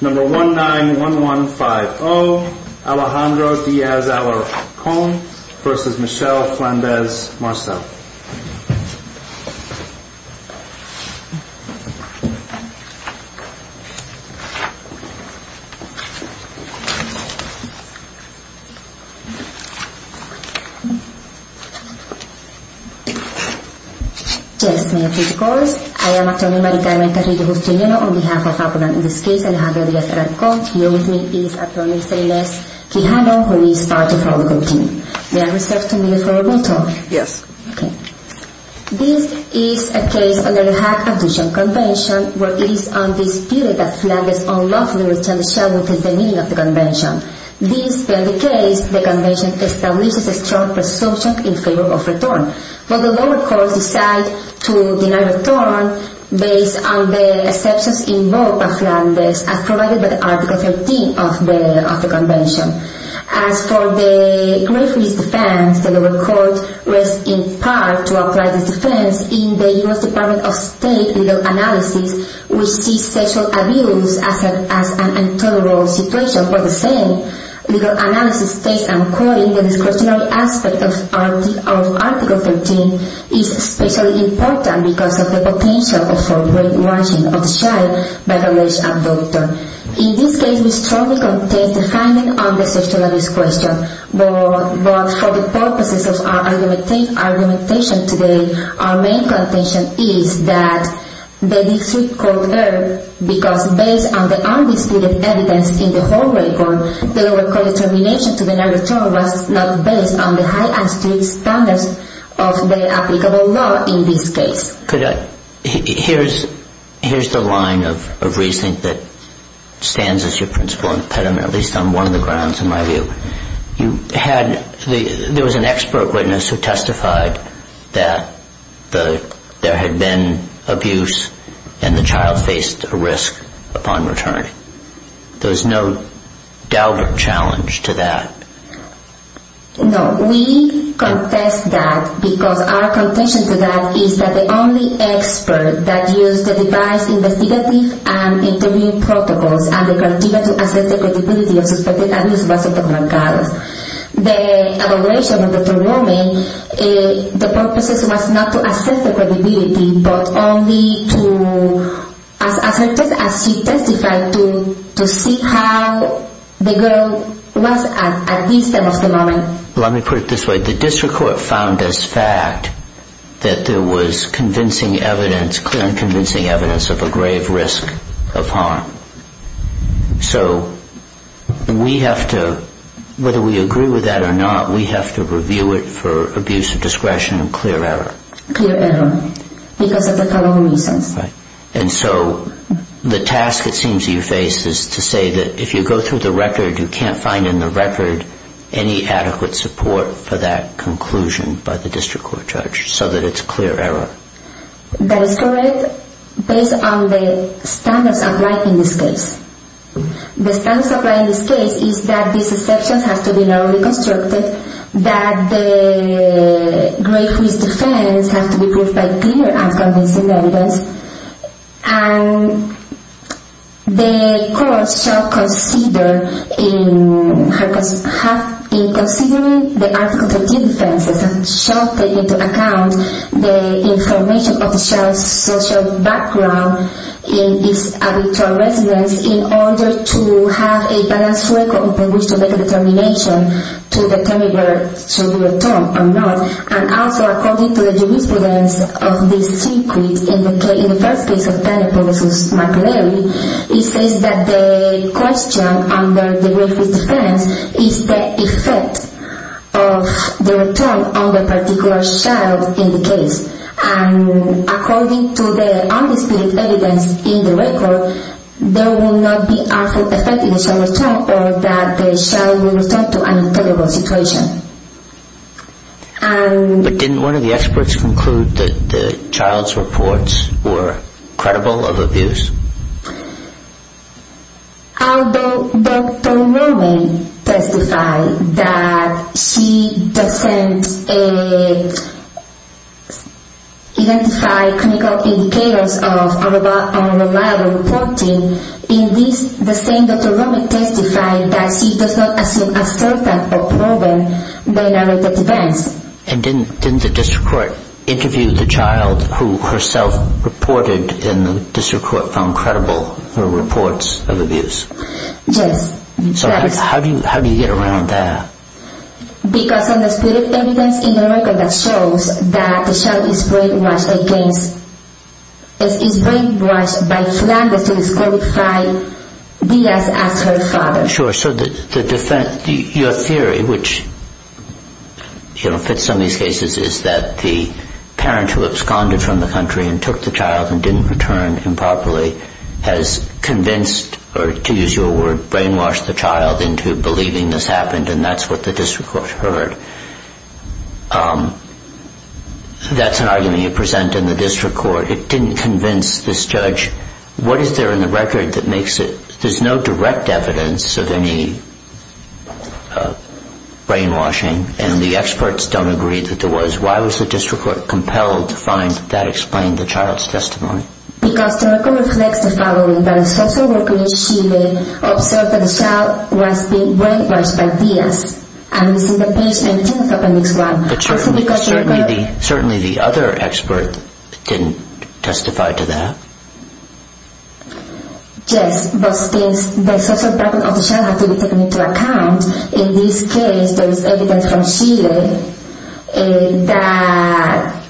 Number 191150, Alejandro Diaz Alarcon versus Michelle Flandes Marceau. Yes, may I take your calls? I am Antonio Marica, I am a career host in UNO on behalf of Alcoran. In this case, Alejandro Diaz Alarcon, here with me is Antonio Flandes Quijano, who is part of our legal team. This is a case under the Hague Abduction Convention where it is undisputed that Flandes unlawfully returned Michelle within the meaning of the Convention. This being the case, the Convention establishes a strong presumption in favour of return. But the lower courts decide to deny return based on the exceptions involved by Flandes as provided by Article 13 of the Convention. As for the grave risk defence, the lower court rests in part to apply this defence in the U.S. Department of State legal analysis, which sees sexual abuse as an intolerable situation. But the same legal analysis states, and I am quoting, the discretionary aspect of Article 13 is especially important because of the potential for brainwashing of the child by the alleged abductor. In this case, we strongly contest the finding on the sexual abuse question. But for the purposes of our argumentation today, our main contention is that the district could err because based on the undisputed evidence in the whole record, the lower court's determination to deny return was not based on the high and strict standards of the applicable law in this case. Here's the line of reasoning that stands as your principal impediment, at least on one of the grounds in my view. There was an expert witness who testified that there had been abuse and the child faced a risk upon return. There was no doubt or challenge to that. No, we contest that because our contention to that is that the only expert that used the device investigative and interview protocols and the criteria to assess the credibility of suspected abuse was Dr. Marcados. The evaluation of Dr. Roman, the purpose was not to assess the credibility but only to, as she testified, to see how the girl was at least at the moment. Let me put it this way. The district court found as fact that there was convincing evidence, clear and convincing evidence of a grave risk of harm. So we have to, whether we agree with that or not, we have to review it for abuse of discretion and clear error. Clear error because of the following reasons. And so the task it seems you face is to say that if you go through the record, you can't find in the record any adequate support for that conclusion by the district court judge so that it's clear error. That is correct based on the standards applied in this case. The standards applied in this case is that these exceptions have to be narrowly constructed, that the grave risk defense has to be proved by clear and convincing evidence, and the court shall consider in considering the article 13 defenses and shall take into account the information of the child's social background in his habitual residence in order to have a balanced record in which to make a determination to determine whether to do it or not. And also according to the jurisprudence of this secret, in the first case of Penelope versus McLeary, it says that the question under the grave risk defense is the effect of the return on the particular child in the case. And according to the undisputed evidence in the record, there will not be any effect in the child's return or that the child will return to an intolerable situation. But didn't one of the experts conclude that the child's reports were credible of abuse? Although Dr. Roman testified that she doesn't identify critical indicators of unreliable reporting, in this the same Dr. Roman testified that she does not assume a certain or proven narrative defense. And didn't the district court interview the child who herself reported in the district court found credible her reports of abuse? Yes. So how do you get around that? Because of the undisputed evidence in the record that shows that the child is brainwashed by Flanders to disqualify Diaz as her father. Sure. So your theory, which fits some of these cases, is that the parent who absconded from the country and took the child and didn't return improperly has convinced, or to use your word, brainwashed the child into believing this happened and that's what the district court heard. That's an argument you present in the district court. It didn't convince this judge. What is there in the record that makes it, there's no direct evidence of any brainwashing and the experts don't agree that there was. Why was the district court compelled to find that explained the child's testimony? Because the record reflects the following, that a social worker in Chile observed that the child was being brainwashed by Diaz. I'm missing the page 19 of appendix 1. But certainly the other expert didn't testify to that. Yes, but the social background of the child has to be taken into account. In this case, there is evidence from Chile that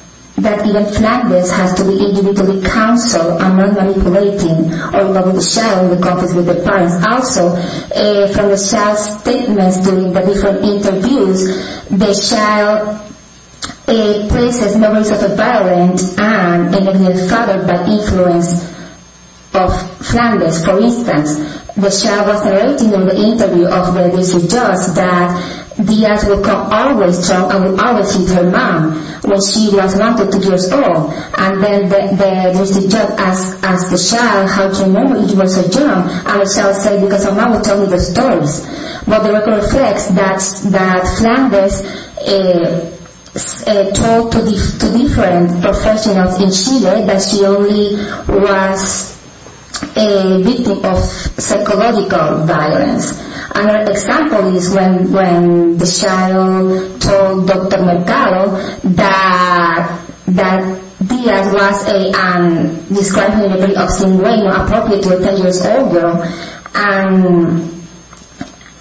even Flanders has to be individually counseled and not manipulating or involving the child in the conflict with the parents. Also, from the child's statements during the different interviews, the child places memories of a violent and an ignorant father by influence of Flanders. For instance, the child was narrating in the interview of the district judge that Diaz would call always child and would always hit her mom when she was 1-2 years old. And then the district judge asked the child, how can you remember she was a child? And the child said, because her mom would tell me those stories. But the record reflects that Flanders told two different professionals in Chile that she only was a victim of psychological violence. Another example is when the child told Dr. Mercado that Diaz was described in a very obscene way, not appropriate to a 10 years old girl.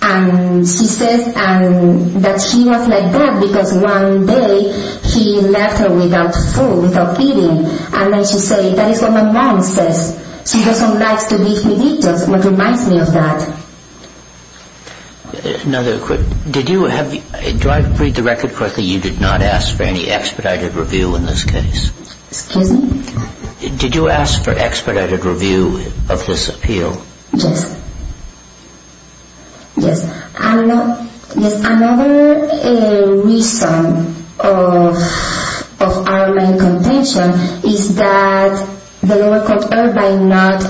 And she said that she was like that because one day he left her without food, without feeding. And then she said, that is what my mom says. She doesn't like to leave me victims. It reminds me of that. Do I read the record correctly? You did not ask for any expedited review in this case? Excuse me? Did you ask for expedited review of this appeal? Yes. Yes. Another reason of our main contention is that the lower court erred by not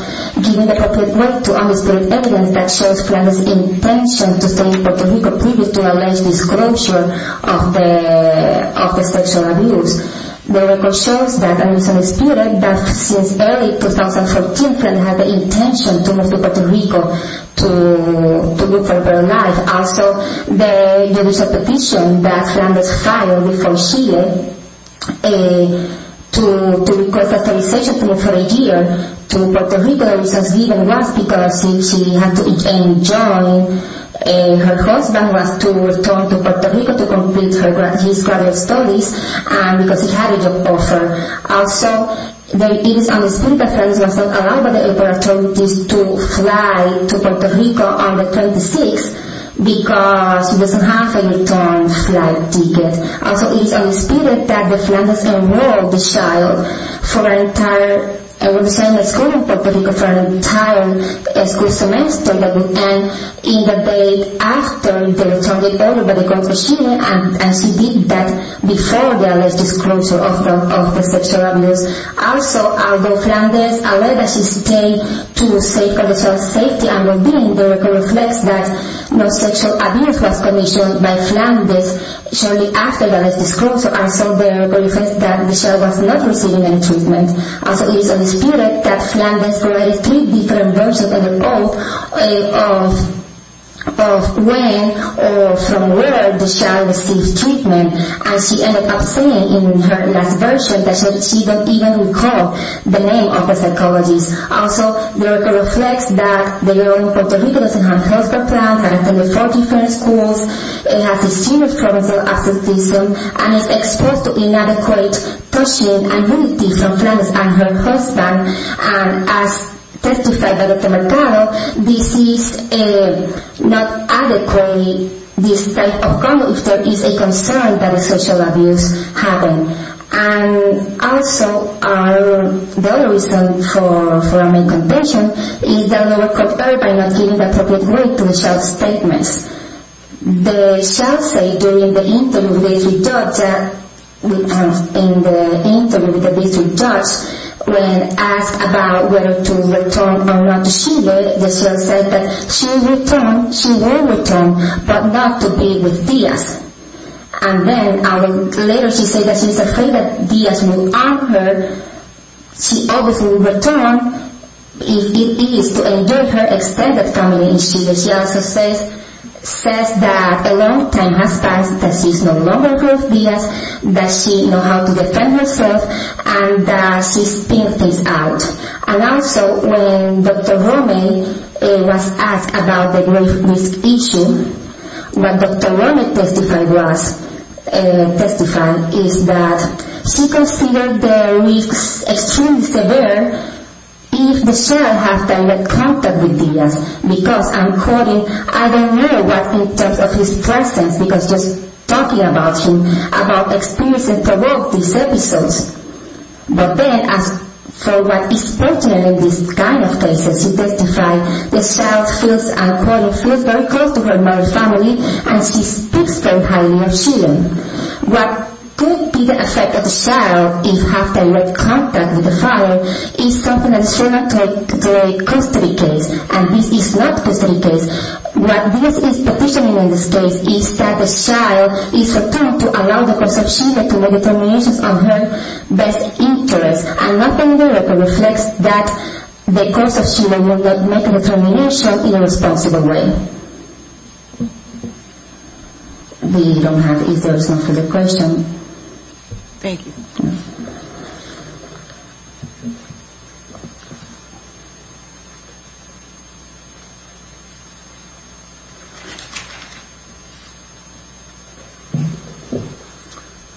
giving the appropriate way to unexpected evidence that shows Flanders' intention to stay in Puerto Rico previous to alleged disclosure of the sexual abuse. The record shows that since early 2014, Flanders had the intention to move to Puerto Rico to live a better life. Also, there is a petition that Flanders filed before Chile to request authorization to move for a year to Puerto Rico. The reason given was because she had to rejoin her husband to return to Puerto Rico to complete his graduate studies. And because he had a job offer. Also, there is a dispute that Flanders was not allowed by the authorities to fly to Puerto Rico on the 26th because she doesn't have a return flight ticket. Also, it is unexpected that the Flanders enrolled the child for an entire school semester in the day after the child was enrolled by the court of Chile, and she did that before the alleged disclosure of the sexual abuse. Also, although Flanders alleged that she stayed to the sake of the child's safety and well-being, the record reflects that no sexual abuse was commissioned by Flanders shortly after the alleged disclosure. Also, the record reflects that the child was not receiving any treatment. Also, there is a dispute that Flanders provided three different versions of when or from where the child received treatment. And she ended up saying in her last version that she didn't even recall the name of the psychologist. Also, the record reflects that the girl in Puerto Rico doesn't have health care plans, has to attend four different schools, has extremely frontal abscesses, and is exposed to inadequate touching and nudity from Flanders and her husband. And as testified by Dr. Mercado, this is not adequate, this type of conduct, if there is a concern that a social abuse happened. And also, the other reason for a main contention is that the record thereby not giving the appropriate weight to the child's statements. The child said during the interview with the district judge, when asked about whether to return or not to Chile, the child said that she will return, but not to be with Diaz. And then later she said that she is afraid that Diaz will arm her. She obviously will return if it is to endure her extended family in Chile. She also says that a long time has passed, that she is no longer with Diaz, that she knows how to defend herself, and that she's been phased out. And also, when Dr. Romey was asked about the rape risk issue, what Dr. Romey testified is that she considered the risks extremely severe if the child has direct contact with Diaz. Because, I'm quoting, I don't know what in terms of his presence, because just talking about him, about experiences throughout these episodes. But then, as for what is pertinent in this kind of cases, she testified, the child feels, I'm quoting, feels very close to her mother's family, and she speaks very highly of Chile. What could be the effect of the child, if have direct contact with the father, is something that's generally called the custody case, and this is not custody case. What this is petitioning in this case is that the child is attempting to allow the course of Chile to make determinations of her best interest, and not only that, but reflects that the course of Chile will not make a determination in a responsible way. We don't have answers to the question. Thank you.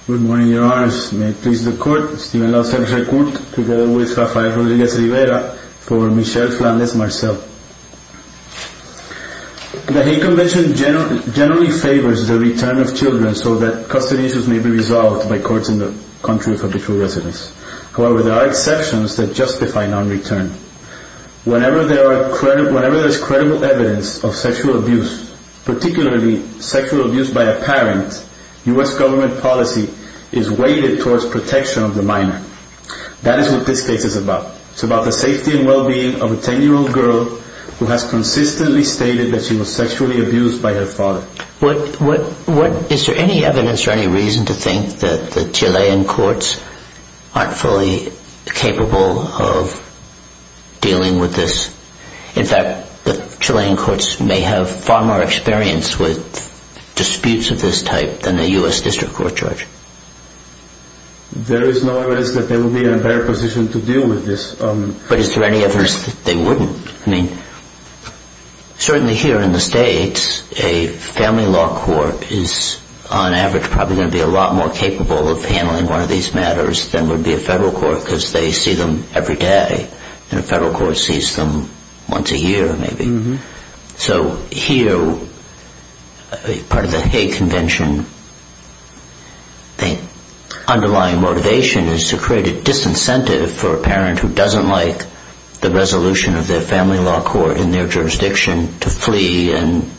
Good morning, your honors. May it please the court, Stephen Law, secretary of court, together with Rafael Rodriguez-Rivera, for Michelle Flandes-Marcel. The hate convention generally favors the return of children, so that custody issues may be resolved by courts in the country for the true residence. However, there are exceptions that justify non-return. Whenever there is credible evidence of sexual abuse, particularly sexual abuse by a parent, U.S. government policy is weighted towards protection of the minor. That is what this case is about. It's about the safety and well-being of a 10-year-old girl who has consistently stated that she was sexually abused by her father. Is there any evidence or any reason to think that the Chilean courts aren't fully capable of dealing with this? In fact, the Chilean courts may have far more experience with disputes of this type than a U.S. district court judge. There is no evidence that they would be in a better position to deal with this. But is there any evidence that they wouldn't? Certainly here in the States, a family law court is, on average, probably going to be a lot more capable of handling one of these matters than would be a federal court because they see them every day. A federal court sees them once a year, maybe. So here, part of the hate convention, the underlying motivation is to create a disincentive for a parent who doesn't like the resolution of their family law court in their jurisdiction to flee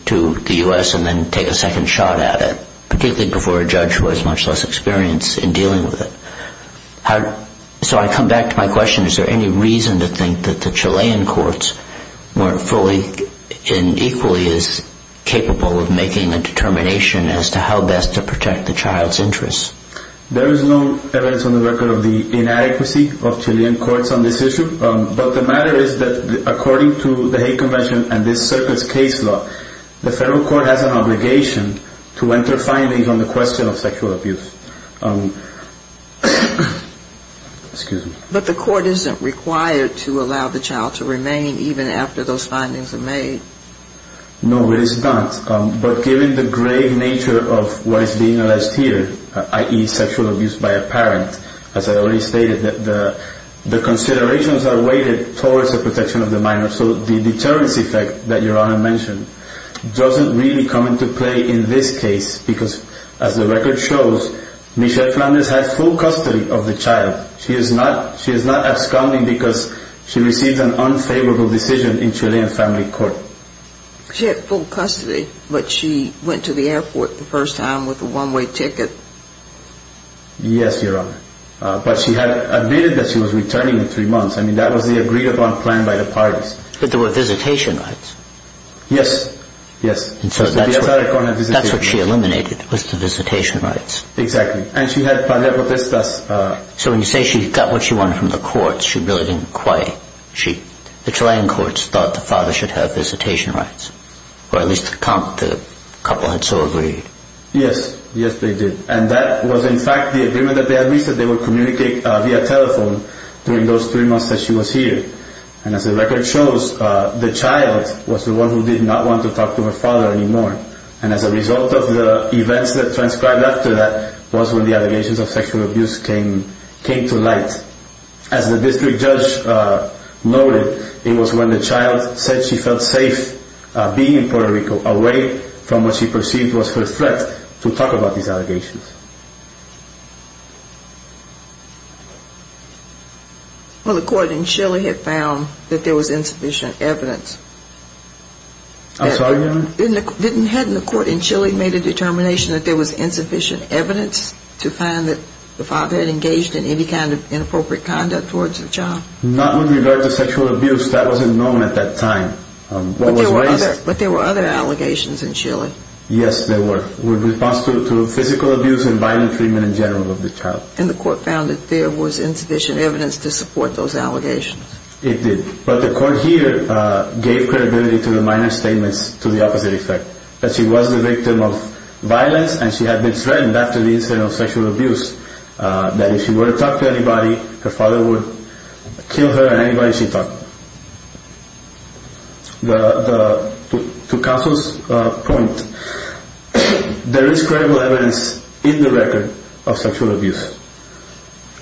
to the U.S. and then take a second shot at it, particularly before a judge who has much less experience in dealing with it. So I come back to my question. Is there any reason to think that the Chilean courts weren't fully and equally as capable of making a determination as to how best to protect the child's interests? There is no evidence on the record of the inadequacy of Chilean courts on this issue. But the matter is that according to the hate convention and this circuit's case law, the federal court has an obligation to enter findings on the question of sexual abuse. But the court isn't required to allow the child to remain even after those findings are made. No, it is not. But given the grave nature of what is being alleged here, i.e. sexual abuse by a parent, as I already stated, the considerations are weighted towards the protection of the minor. So the deterrence effect that Your Honor mentioned doesn't really come into play in this case because as the record shows, Michelle Flanders has full custody of the child. She is not absconding because she received an unfavorable decision in Chilean family court. She had full custody, but she went to the airport the first time with a one-way ticket. Yes, Your Honor. But she had admitted that she was returning in three months. I mean, that was the agreed-upon plan by the parties. But there were visitation rights. Yes, yes. That's what she eliminated was the visitation rights. Exactly. And she had plenipotentiary. So when you say she got what she wanted from the courts, she really didn't quite. The Chilean courts thought the father should have visitation rights. Or at least the couple had so agreed. Yes, yes they did. And that was in fact the agreement that they had reached that they would communicate via telephone during those three months that she was here. And as the record shows, the child was the one who did not want to talk to her father anymore. And as a result of the events that transcribed after that was when the allegations of sexual abuse came to light. And as the district judge noted, it was when the child said she felt safe being in Puerto Rico away from what she perceived was her threat to talk about these allegations. Well, the court in Chile had found that there was insufficient evidence. I'm sorry, Your Honor? Hadn't the court in Chile made a determination that there was insufficient evidence to find that the father had engaged in any kind of inappropriate conduct towards the child? Not with regard to sexual abuse. That wasn't known at that time. But there were other allegations in Chile. Yes, there were. With response to physical abuse and violent treatment in general of the child. And the court found that there was insufficient evidence to support those allegations. It did. But the court here gave credibility to the minor statements to the opposite effect. That she was the victim of violence and she had been threatened after the incident of sexual abuse. That if she were to talk to anybody, her father would kill her and anybody she talked to. To counsel's point, there is credible evidence in the record of sexual abuse.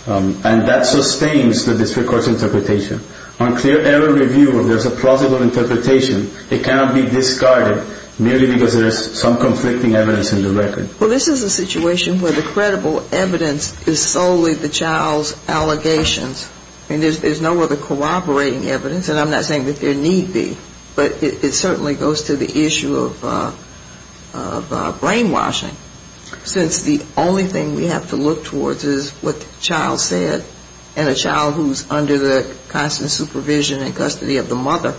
And that sustains the district court's interpretation. On clear error review, there's a plausible interpretation. It cannot be discarded merely because there is some conflicting evidence in the record. Well, this is a situation where the credible evidence is solely the child's allegations. And there's no other corroborating evidence. And I'm not saying that there need be. But it certainly goes to the issue of brainwashing. Since the only thing we have to look towards is what the child said. And a child who's under the constant supervision and custody of the mother.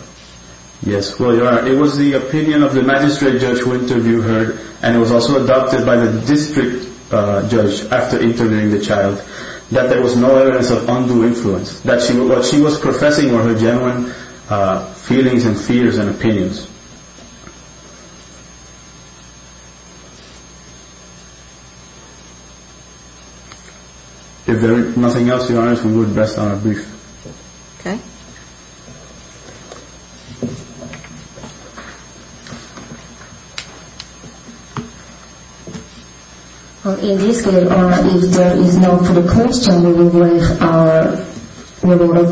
Yes, well, Your Honor, it was the opinion of the magistrate judge who interviewed her. And it was also adopted by the district judge after interviewing the child. That there was no evidence of undue influence. That what she was professing were her genuine feelings and fears and opinions. If there is nothing else, Your Honor, we will rest on our brief. Okay. Thank you. Well, in this case, Your Honor, if there is no further questions, we will leave our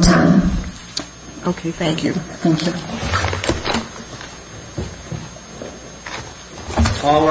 time. Okay, thank you. Thank you.